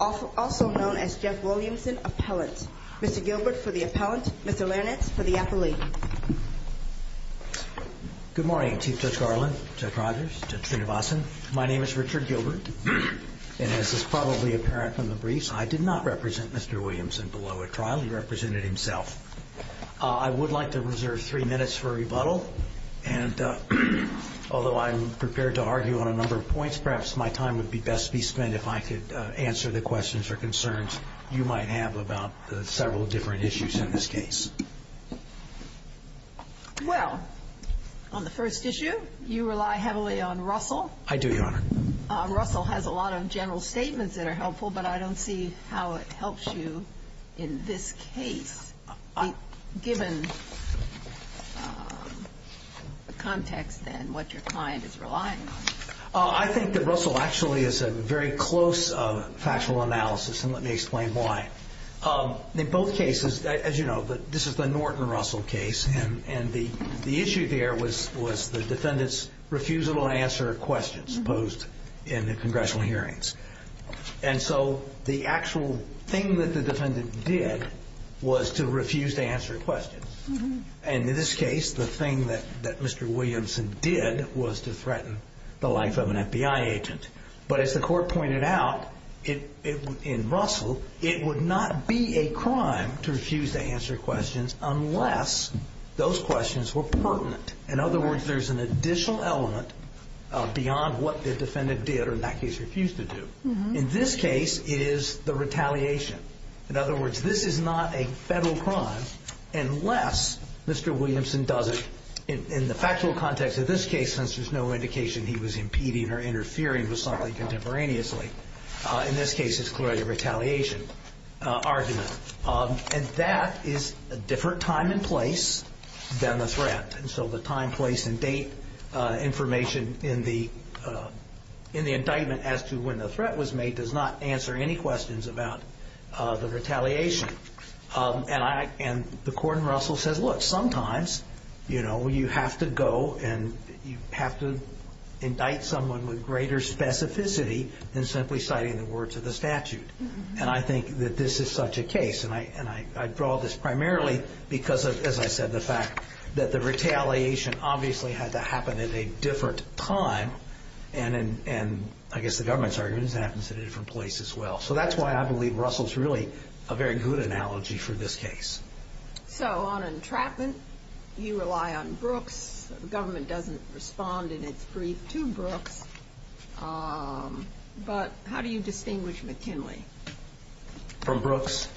also known as Jeff Williamson appellant. Mr. Gilbert for the appellant, Mr. Lernitz for the athlete. Good morning, Chief Judge Garland, Judge Rogers, Judge Srinivasan. My name is Richard Gilbert. And as is probably apparent from the briefs, I did not represent Mr. Williamson below a trial. He represented himself. And although I'm prepared to argue on a number of points, perhaps my time would be best to be spent if I could answer the questions or concerns you might have about several different issues in this case. Well, on the first issue, you rely heavily on Russell. I do, Your Honor. Russell has a lot of general statements that are helpful, but I don't see how it helps you in this case, given the context and what your client is relying on. I think that Russell actually is a very close factual analysis. And let me explain why. In both cases, as you know, this is the Norton Russell case. And the issue there was the defendant's refusal to answer questions posed in the congressional hearings. And so the actual thing that the defendant did was to refuse to answer questions. And in this case, the thing that Mr. Williamson did was to threaten the life of an FBI agent. But as the court pointed out, in Russell, it would not be a crime to refuse to answer questions unless those questions were pertinent. In other words, there's an additional element beyond what the defendant did or, in that case, refused to do. In this case, it is the retaliation. In other words, this is not a federal crime unless Mr. Williamson does it in the factual context of this case, since there's no indication he was impeding or interfering with something contemporaneously. In this case, it's clearly a retaliation argument. And that is a different time and place than the threat. And so the time, place, and date information in the indictment as to when the threat was made does not answer any questions about the retaliation. And the court in Russell says, look, sometimes you have to go and you have to indict someone with greater specificity than simply citing the words of the statute. And I think that this is such a case. And I draw this primarily because, as I said, the fact that the retaliation obviously had to happen at a different time. And I guess the government's argument is it happens at a different place as well. So that's why I believe Russell's really a very good analogy for this case. So on entrapment, you rely on Brooks. The government doesn't respond in its brief to Brooks. But how do you distinguish McKinley? From Brooks?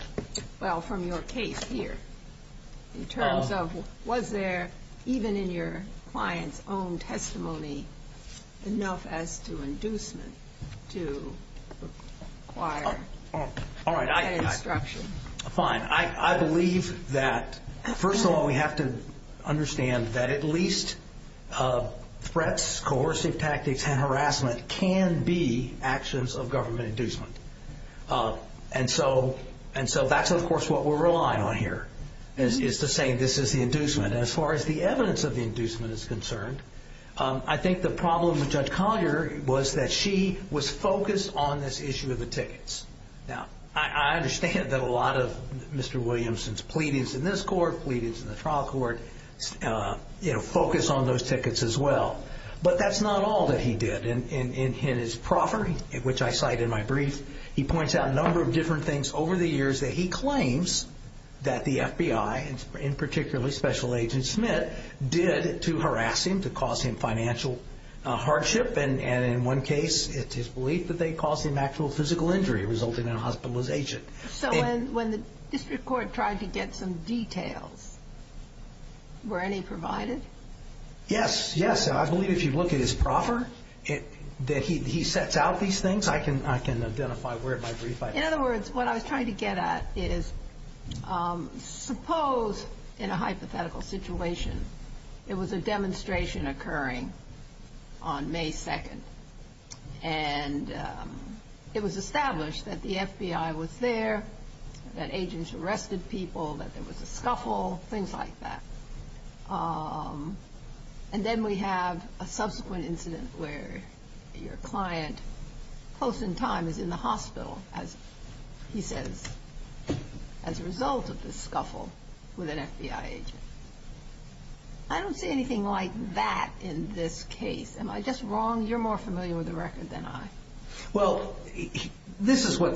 Well, from your case here, in terms of was there, even in your client's own testimony, enough as to inducement to require that instruction? Fine. I believe that, first of all, we have to understand that at least threats, coercive tactics, and harassment can be actions of government inducement. And so that's, of course, what we're relying on here is to say this is the inducement. As far as the evidence of the inducement is concerned, I think the problem with Judge Collier was that she was focused on this issue of the tickets. Now, I understand that a lot of Mr. Williamson's pleadings in this court, pleadings in the trial court, focus on those tickets as well. But that's not all that he did in his proffering, which I cite in my brief. He points out a number of different things over the years that he claims that the FBI, and particularly Special Agent Smith, did to harass him, to cause him financial hardship. And in one case, it's his belief that they caused him actual physical injury, resulting in hospitalization. So when the district court tried to get some details, were any provided? Yes, yes. And I believe if you look at his proffer, that he sets out these things. I can identify where in my brief I... And it was established that the FBI was there, that agents arrested people, that there was a scuffle, things like that. And then we have a subsequent incident where your client, close in time, is in the hospital, as he says, as a result of the scuffle with an FBI agent. I don't see anything like that in this case. Am I just wrong? You're more familiar with the record than I. Well, this is what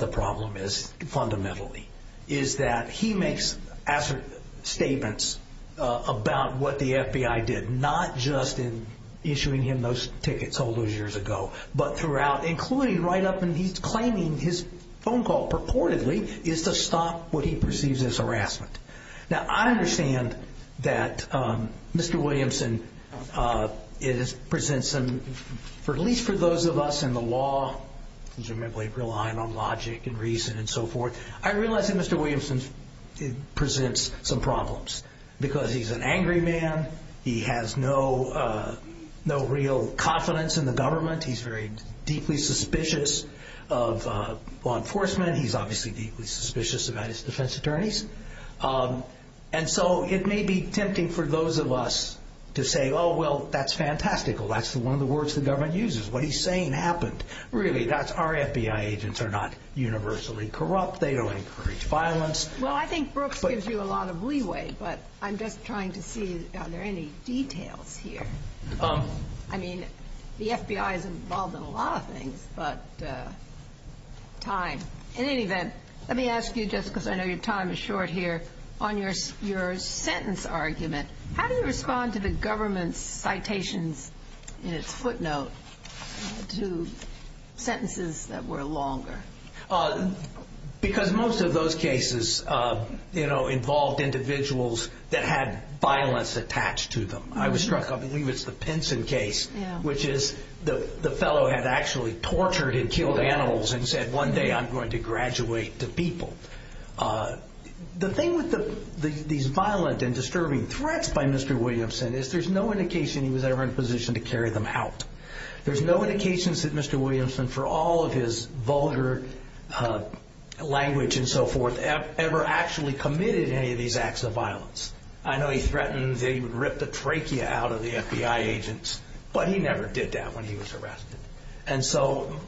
the problem is, fundamentally, is that he makes assertive statements about what the FBI did, not just in issuing him those tickets all those years ago, but throughout, including right up until he's claiming his phone call purportedly is to stop what he perceives as harassment. Now, I understand that Mr. Williamson presents some, at least for those of us in the law, because we're mainly relying on logic and reason and so forth, I realize that Mr. Williamson presents some problems, because he's an angry man. He has no real confidence in the government. He's very deeply suspicious of law enforcement. He's obviously deeply suspicious about his defense attorneys. And so it may be tempting for those of us to say, oh, well, that's fantastical. That's one of the words the government uses. What he's saying happened. Really, that's our FBI agents are not universally corrupt. They don't encourage violence. Well, I think Brooks gives you a lot of leeway, but I'm just trying to see if there are any details here. I mean, the FBI is involved in a lot of things, but time. In any event, let me ask you just because I know your time is short here on your your sentence argument. How do you respond to the government's citations in its footnote to sentences that were longer? Because most of those cases involved individuals that had violence attached to them. I was struck. I believe it's the Pinson case, which is the fellow had actually tortured and killed animals and said, one day I'm going to graduate to people. The thing with these violent and disturbing threats by Mr. Williamson is there's no indication he was ever in a position to carry them out. There's no indications that Mr. Williamson, for all of his vulgar language and so forth, ever actually committed any of these acts of violence. I know he threatened they would rip the trachea out of the FBI agents, but he never did that when he was arrested. And so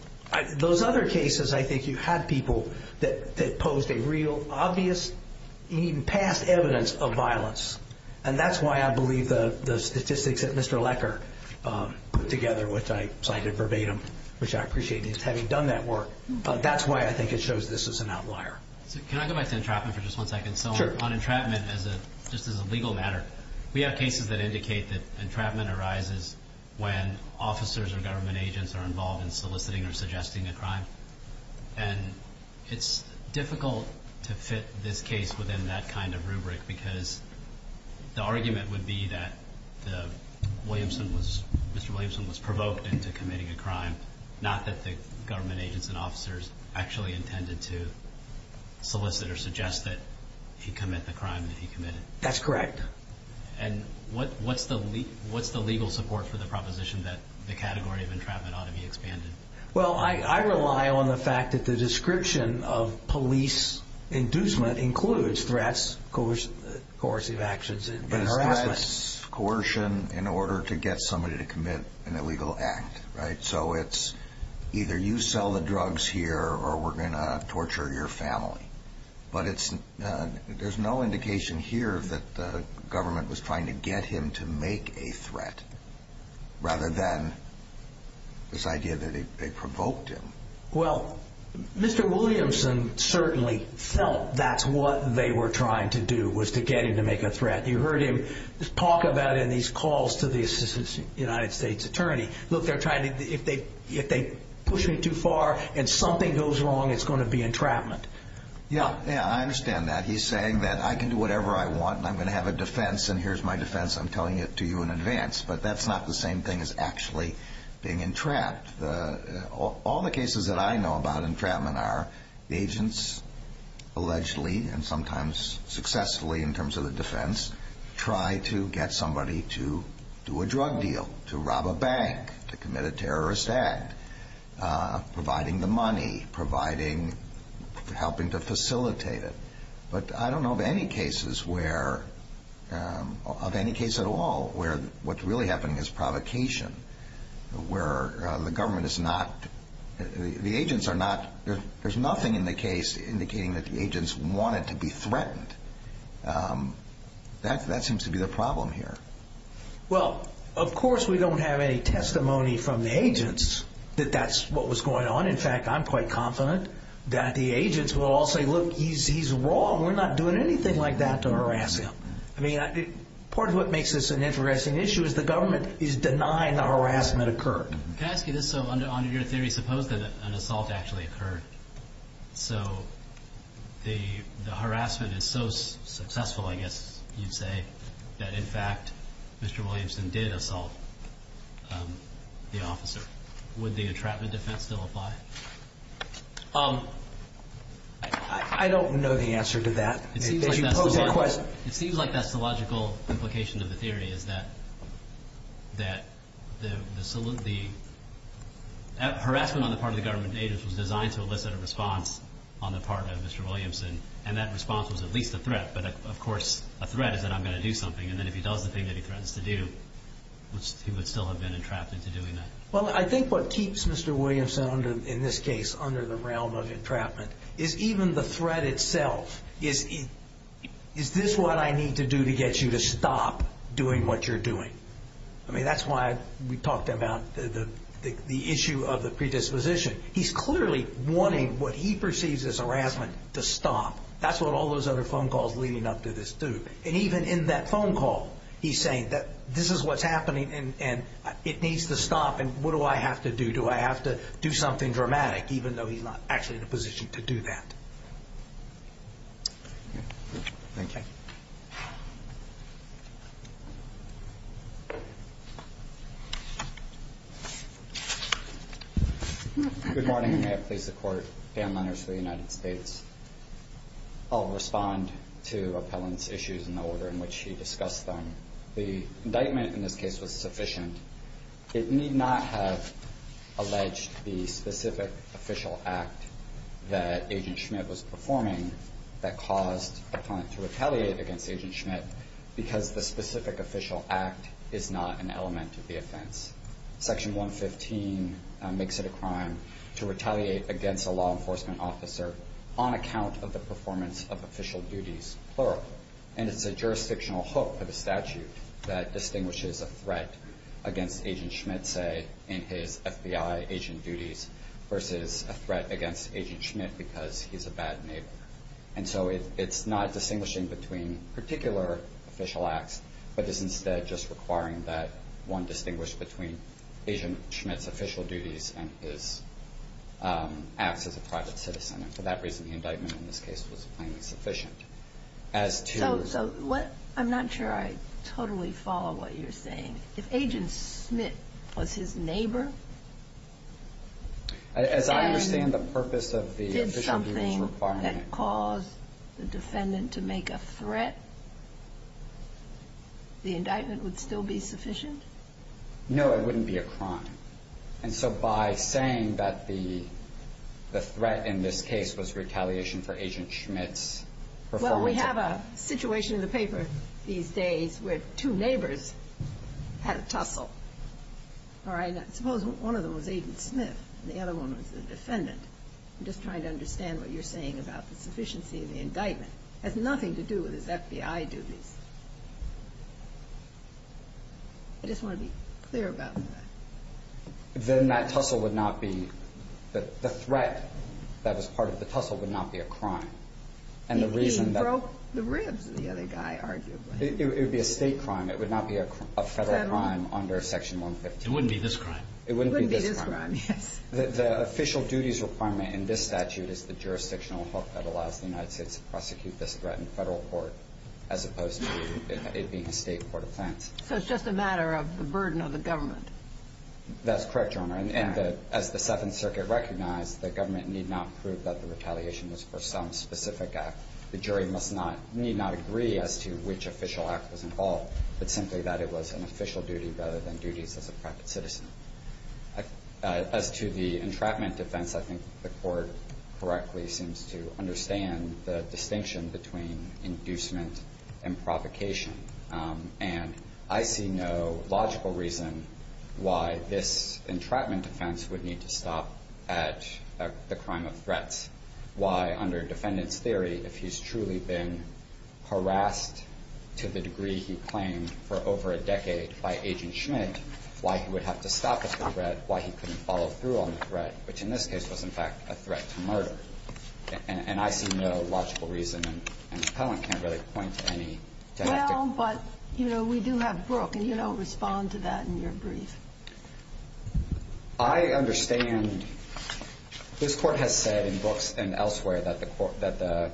those other cases, I think you had people that posed a real obvious past evidence of violence. And that's why I believe the statistics that Mr. Lecker put together, which I cited verbatim, which I appreciate his having done that work. But that's why I think it shows this is an outlier. So can I go back to entrapment for just one second? So on entrapment as a just as a legal matter, we have cases that indicate that entrapment arises when officers or government agents are involved in soliciting or suggesting a crime. And it's difficult to fit this case within that kind of rubric because the argument would be that Mr. Williamson was provoked into committing a crime, not that the government agents and officers actually intended to solicit or suggest that he commit the crime that he committed. That's correct. And what's the legal support for the proposition that the category of entrapment ought to be expanded? Well, I rely on the fact that the description of police inducement includes threats, coercive actions and harassment. It's coercion in order to get somebody to commit an illegal act. So it's either you sell the drugs here or we're going to torture your family. But it's there's no indication here that the government was trying to get him to make a threat rather than this idea that they provoked him. Well, Mr. Williamson certainly felt that's what they were trying to do was to get him to make a threat. You heard him talk about in these calls to the United States attorney. Look, they're trying to if they if they push me too far and something goes wrong, it's going to be entrapment. Yeah, yeah, I understand that. He's saying that I can do whatever I want and I'm going to have a defense and here's my defense. I'm telling it to you in advance. But that's not the same thing as actually being entrapped. All the cases that I know about entrapment are agents allegedly and sometimes successfully in terms of the defense, try to get somebody to do a drug deal, to rob a bank, to commit a terrorist act, providing the money, providing helping to facilitate it. But I don't know of any cases where of any case at all where what's really happening is provocation, where the government is not the agents are not. There's nothing in the case indicating that the agents wanted to be threatened. That seems to be the problem here. Well, of course, we don't have any testimony from the agents that that's what was going on. In fact, I'm quite confident that the agents will all say, look, he's wrong. We're not doing anything like that to harass him. I mean, part of what makes this an interesting issue is the government is denying the harassment occurred. Can I ask you this? So under your theory, suppose that an assault actually occurred. So the harassment is so successful, I guess you'd say, that in fact, Mr. Williamson did assault the officer. Would the entrapment defense still apply? I don't know the answer to that. It seems like that's the logical implication of the theory is that the harassment on the part of the government agents was designed to elicit a response on the part of Mr. Williamson. And that response was at least a threat. But, of course, a threat is that I'm going to do something. And then if he does the thing that he threatens to do, he would still have been entrapped into doing that. Well, I think what keeps Mr. Williamson, in this case, under the realm of entrapment is even the threat itself. Is this what I need to do to get you to stop doing what you're doing? I mean, that's why we talked about the issue of the predisposition. He's clearly wanting what he perceives as harassment to stop. That's what all those other phone calls leading up to this do. And even in that phone call, he's saying that this is what's happening and it needs to stop. And what do I have to do? Do I have to do something dramatic, even though he's not actually in a position to do that? Thank you. Good morning. May it please the Court. Dan Lenners for the United States. I'll respond to Appellant's issues in the order in which he discussed them. The indictment in this case was sufficient. It need not have alleged the specific official act that Agent Schmidt was performing that caused Appellant to retaliate against Agent Schmidt because the specific official act is not an element of the offense. Section 115 makes it a crime to retaliate against a law enforcement officer on account of the performance of official duties, plural. And it's a jurisdictional hook for the statute that distinguishes a threat against Agent Schmidt, say, in his FBI agent duties versus a threat against Agent Schmidt because he's a bad neighbor. And so it's not distinguishing between particular official acts, but is instead just requiring that one distinguish between Agent Schmidt's official duties and his acts as a private citizen. And for that reason, the indictment in this case was plainly sufficient. So I'm not sure I totally follow what you're saying. If Agent Schmidt was his neighbor and did something that caused the defendant to make a threat, the indictment would still be sufficient? No, it wouldn't be a crime. And so by saying that the threat in this case was retaliation for Agent Schmidt's performance. Well, we have a situation in the paper these days where two neighbors had a tussle. All right? Now, suppose one of them was Agent Schmidt and the other one was the defendant. I'm just trying to understand what you're saying about the sufficiency of the indictment. It has nothing to do with his FBI duties. I just want to be clear about that. Then that tussle would not be the threat that was part of the tussle would not be a crime. He broke the ribs of the other guy, arguably. It would be a state crime. It would not be a federal crime under Section 115. It wouldn't be this crime. It wouldn't be this crime. It wouldn't be this crime, yes. The official duties requirement in this statute is the jurisdictional hook that allows the United States to prosecute this threat in federal court as opposed to it being a state court offense. So it's just a matter of the burden of the government. That's correct, Your Honor. And as the Seventh Circuit recognized, the government need not prove that the retaliation is for some specific act. The jury need not agree as to which official act was involved, but simply that it was an official duty rather than duties as a private citizen. As to the entrapment defense, I think the court correctly seems to understand the distinction between inducement and provocation. And I see no logical reason why this entrapment defense would need to stop at the crime of threats. Why, under defendant's theory, if he's truly been harassed to the degree he claimed for over a decade by Agent Schmidt, why he would have to stop at the threat, why he couldn't follow through on the threat, which in this case was, in fact, a threat to murder. And I see no logical reason. And the appellant can't really point to any genetic reason. Well, but, you know, we do have Brooke, and you don't respond to that in your brief. I understand. This Court has said in Brooks and elsewhere that the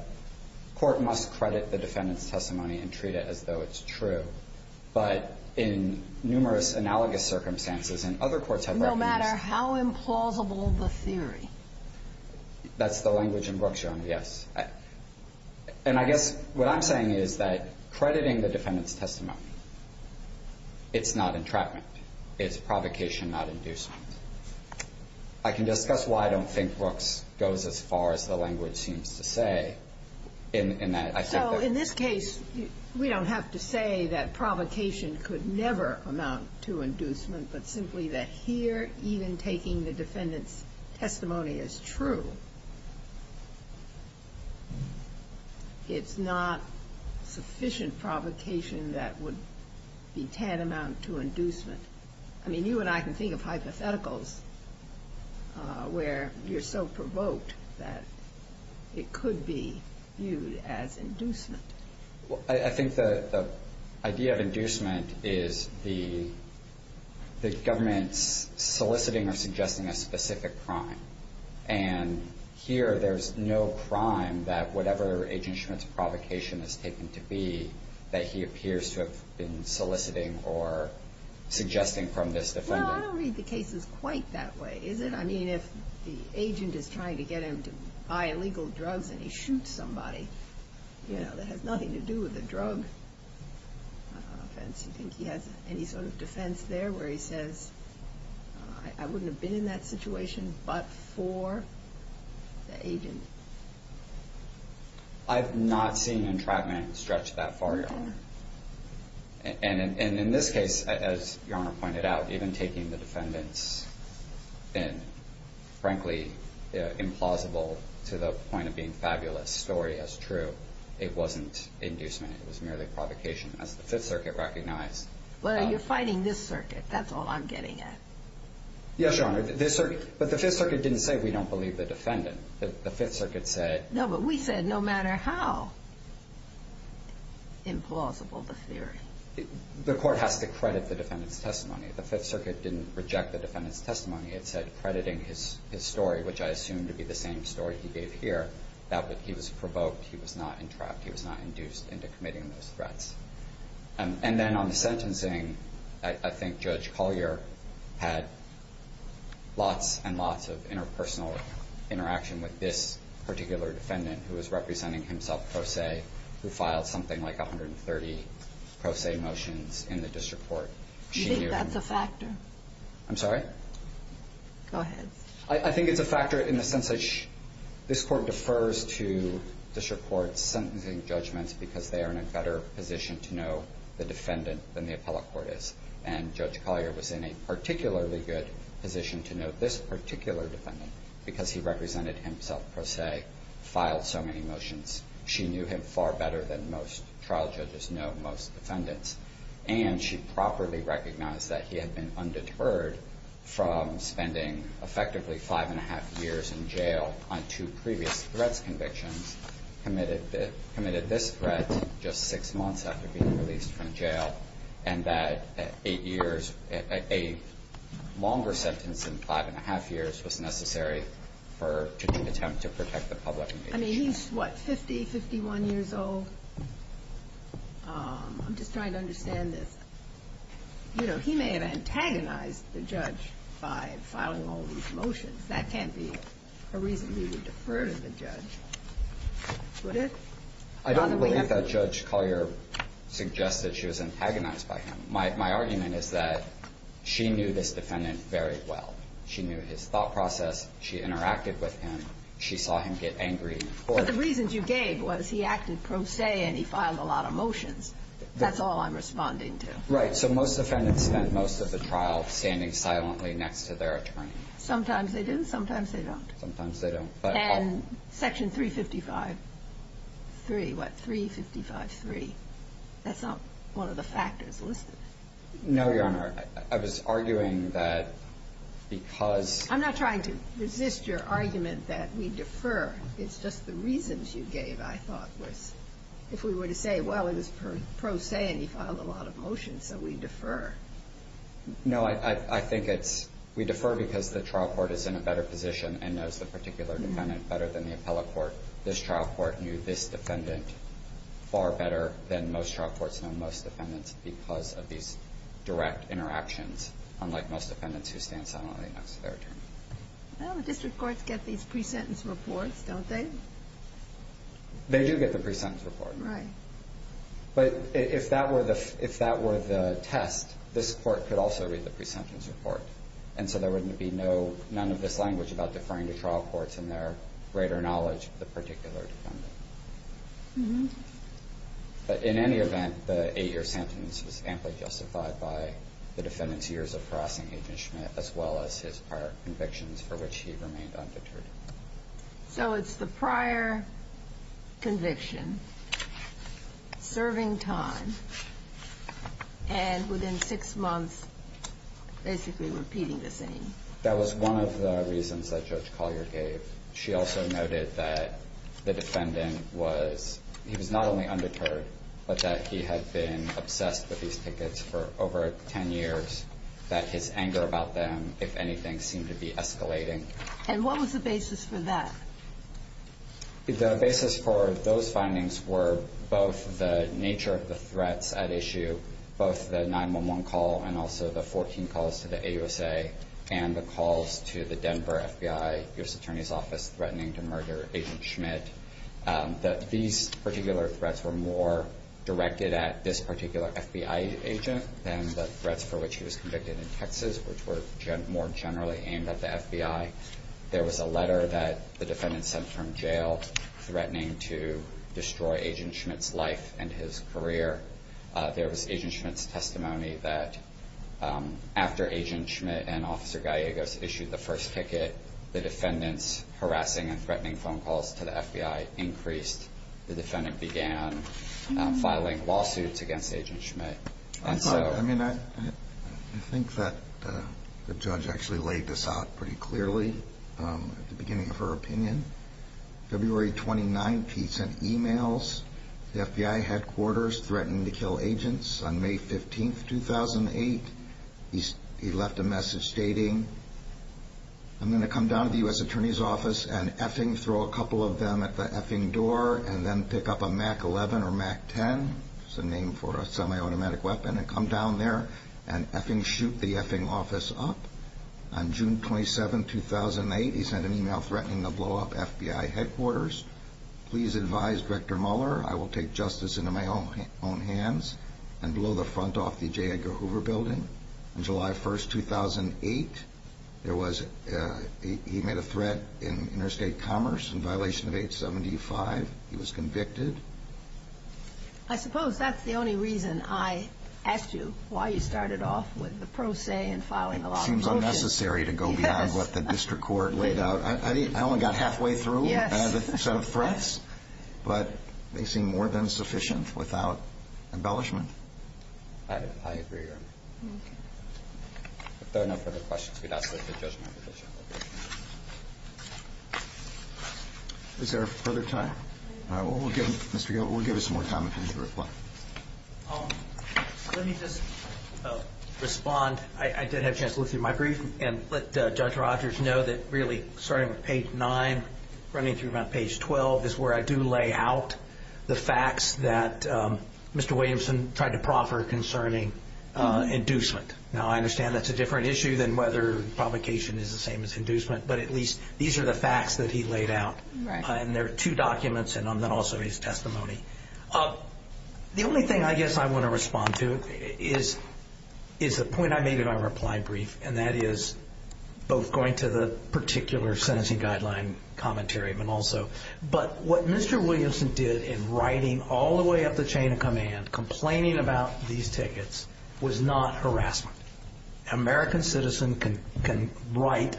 Court must credit the defendant's testimony and treat it as though it's true. But in numerous analogous circumstances, and other courts have recognized that. No matter how implausible the theory. That's the language in Brooks, Your Honor, yes. And I guess what I'm saying is that crediting the defendant's testimony, it's not entrapment. It's provocation, not inducement. I can discuss why I don't think Brooks goes as far as the language seems to say in that I think that. So in this case, we don't have to say that provocation could never amount to inducement, but simply that here, even taking the defendant's testimony as true, it's not sufficient provocation that would be tantamount to inducement. I mean, you and I can think of hypotheticals where you're so provoked that it could be viewed as inducement. I think the idea of inducement is the government's soliciting or suggesting a specific crime. And here, there's no crime that whatever Agent Schmidt's provocation has taken to be, that he appears to have been soliciting or suggesting from this defendant. No, I don't read the cases quite that way, is it? I mean, if the agent is trying to get him to buy illegal drugs and he shoots somebody, that has nothing to do with the drug offense. Do you think he has any sort of defense there where he says, I wouldn't have been in that situation but for the agent? I've not seen entrapment stretch that far, Your Honor. And in this case, as Your Honor pointed out, even taking the defendant's, frankly, implausible to the point of being fabulous story as true, it wasn't inducement. It was merely provocation, as the Fifth Circuit recognized. Well, you're fighting this circuit. That's all I'm getting at. Yes, Your Honor. But the Fifth Circuit didn't say we don't believe the defendant. The Fifth Circuit said— The court has to credit the defendant's testimony. The Fifth Circuit didn't reject the defendant's testimony. It said crediting his story, which I assume to be the same story he gave here, that he was provoked, he was not entrapped, he was not induced into committing those threats. And then on the sentencing, I think Judge Collier had lots and lots of interpersonal interaction with this particular defendant who was representing himself, Pro Se, who filed something like 130 Pro Se motions in the district court. You think that's a factor? I'm sorry? Go ahead. I think it's a factor in the sense that this court defers to district courts sentencing judgments because they are in a better position to know the defendant than the appellate court is. And Judge Collier was in a particularly good position to know this particular defendant because he represented himself, Pro Se, filed so many motions. She knew him far better than most trial judges know most defendants. And she properly recognized that he had been undeterred from spending effectively five-and-a-half years in jail on two previous threats convictions, committed this threat just six months after being released from jail, and that eight years – a longer sentence than five-and-a-half years was necessary for – to attempt to protect the public. I mean, he's, what, 50, 51 years old? I'm just trying to understand this. You know, he may have antagonized the judge by filing all these motions. That can't be a reason we would defer to the judge, would it? I don't believe that Judge Collier suggested she was antagonized by him. My argument is that she knew this defendant very well. She knew his thought process. She interacted with him. She saw him get angry. But the reasons you gave was he acted Pro Se and he filed a lot of motions. That's all I'm responding to. Right. So most defendants spent most of the trial standing silently next to their attorney. Sometimes they do. Sometimes they don't. Sometimes they don't. And Section 355-3. What? 355-3. That's not one of the factors listed. No, Your Honor. I was arguing that because – I'm not trying to resist your argument that we defer. It's just the reasons you gave, I thought, was if we were to say, well, it was Pro Se and he filed a lot of motions, so we defer. No, I think it's we defer because the trial court is in a better position and knows the particular defendant better than the appellate court. This trial court knew this defendant far better than most trial courts know most defendants because of these direct interactions, unlike most defendants who stand silently next to their attorney. Well, district courts get these pre-sentence reports, don't they? They do get the pre-sentence report. Right. But if that were the test, this court could also read the pre-sentence report, and so there would be no – none of this language about deferring to trial courts in their greater knowledge of the particular defendant. Mm-hmm. But in any event, the 8-year sentence was amply justified by the defendant's years of harassing Agent Schmidt as well as his prior convictions for which he remained undeterred. So it's the prior conviction, serving time, and within six months basically repeating the same. That was one of the reasons that Judge Collier gave. She also noted that the defendant was – he was not only undeterred but that he had been obsessed with these tickets for over 10 years, that his anger about them, if anything, seemed to be escalating. And what was the basis for that? The basis for those findings were both the nature of the threats at issue, both the 911 call and also the 14 calls to the AUSA and the calls to the Denver FBI U.S. Attorney's Office threatening to murder Agent Schmidt, that these particular threats were more directed at this particular FBI agent than the threats for which he was convicted in Texas, which were more generally aimed at the FBI. There was a letter that the defendant sent from jail threatening to destroy Agent Schmidt's life and his career. There was Agent Schmidt's testimony that after Agent Schmidt and Officer Gallegos issued the first ticket, the defendant's harassing and threatening phone calls to the FBI increased. The defendant began filing lawsuits against Agent Schmidt. I think that the judge actually laid this out pretty clearly at the beginning of her opinion. February 29th, he sent emails to the FBI headquarters threatening to kill agents. On May 15th, 2008, he left a message stating, I'm going to come down to the U.S. Attorney's Office and effing throw a couple of them at the effing door and then pick up a Mac 11 or Mac 10, which is a name for a semi-automatic weapon, and come down there and effing shoot the effing office up. On June 27th, 2008, he sent an email threatening to blow up FBI headquarters. Please advise Director Mueller I will take justice into my own hands and blow the front off the J. Edgar Hoover building. On July 1st, 2008, he made a threat in interstate commerce in violation of 875. He was convicted. I suppose that's the only reason I asked you why you started off with the pro se and filing a lawsuit. It seems unnecessary to go beyond what the district court laid out. I only got halfway through the set of threats, but they seem more than sufficient without embellishment. I agree. If there are no further questions, we'd ask that the judge make a motion. Is there further time? Mr. Gilbert, we'll give you some more time if you need to reply. Let me just respond. I did have a chance to look through my brief and let Judge Rogers know that, really, starting with page 9, running through about page 12, is where I do lay out the facts that Mr. Williamson tried to proffer concerning inducement. Now, I understand that's a different issue than whether provocation is the same as inducement, but at least these are the facts that he laid out. There are two documents in them and also his testimony. The only thing I guess I want to respond to is the point I made in my reply brief, and that is both going to the particular sentencing guideline commentary, but also what Mr. Williamson did in writing all the way up the chain of command, complaining about these tickets, was not harassment. An American citizen can write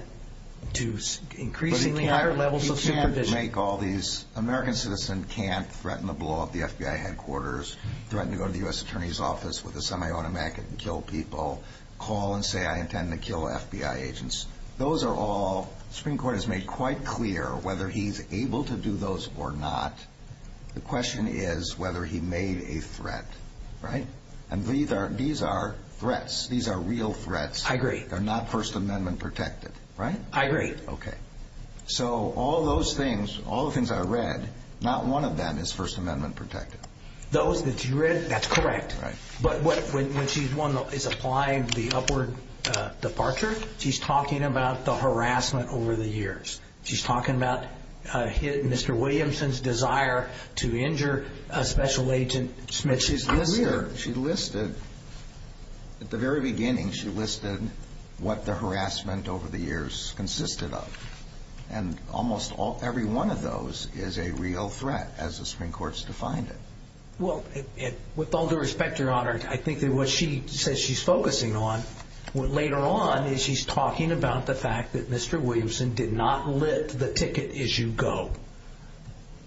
to increasingly higher levels of supervision. But he can't make all these. An American citizen can't threaten to blow up the FBI headquarters, threaten to go to the U.S. Attorney's Office with a semi-automatic and kill people, call and say, I intend to kill FBI agents. Those are all, the Supreme Court has made quite clear whether he's able to do those or not. The question is whether he made a threat, right? And these are threats. These are real threats. I agree. They're not First Amendment protected, right? I agree. Okay. So all those things, all the things I read, not one of them is First Amendment protected. Those that you read, that's correct. But when she's applying the upward departure, she's talking about the harassment over the years. She's talking about Mr. Williamson's desire to injure a special agent. She's clear. She listed, at the very beginning, she listed what the harassment over the years consisted of. And almost every one of those is a real threat as the Supreme Court's defined it. Well, with all due respect, Your Honor, I think that what she says she's focusing on later on is she's talking about the fact that Mr. Williamson did not lift the ticket issue go.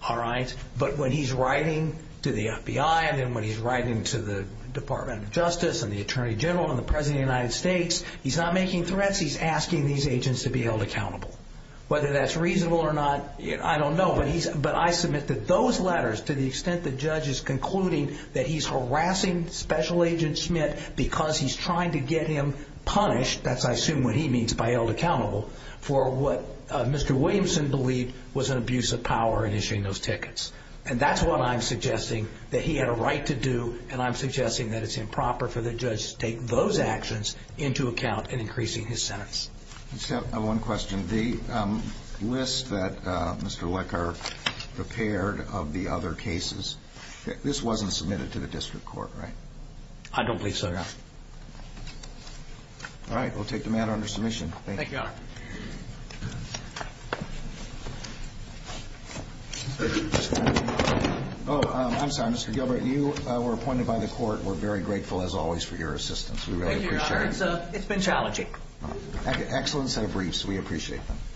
All right? But when he's writing to the FBI and then when he's writing to the Department of Justice and the Attorney General and the President of the United States, he's not making threats. He's asking these agents to be held accountable. Whether that's reasonable or not, I don't know. But I submit that those letters, to the extent the judge is concluding that he's harassing Special Agent Schmidt because he's trying to get him punished, that's, I assume, what he means by held accountable, for what Mr. Williamson believed was an abuse of power in issuing those tickets. And that's what I'm suggesting, that he had a right to do, and I'm suggesting that it's improper for the judge to take those actions into account in increasing his sentence. I just have one question. The list that Mr. Lecker prepared of the other cases, this wasn't submitted to the district court, right? I don't believe so. All right, we'll take the matter under submission. Thank you. I'm sorry, Mr. Gilbert, you were appointed by the court. We're very grateful, as always, for your assistance. We really appreciate it. Thank you, Your Honor. It's been challenging. Excellent set of briefs. We appreciate them.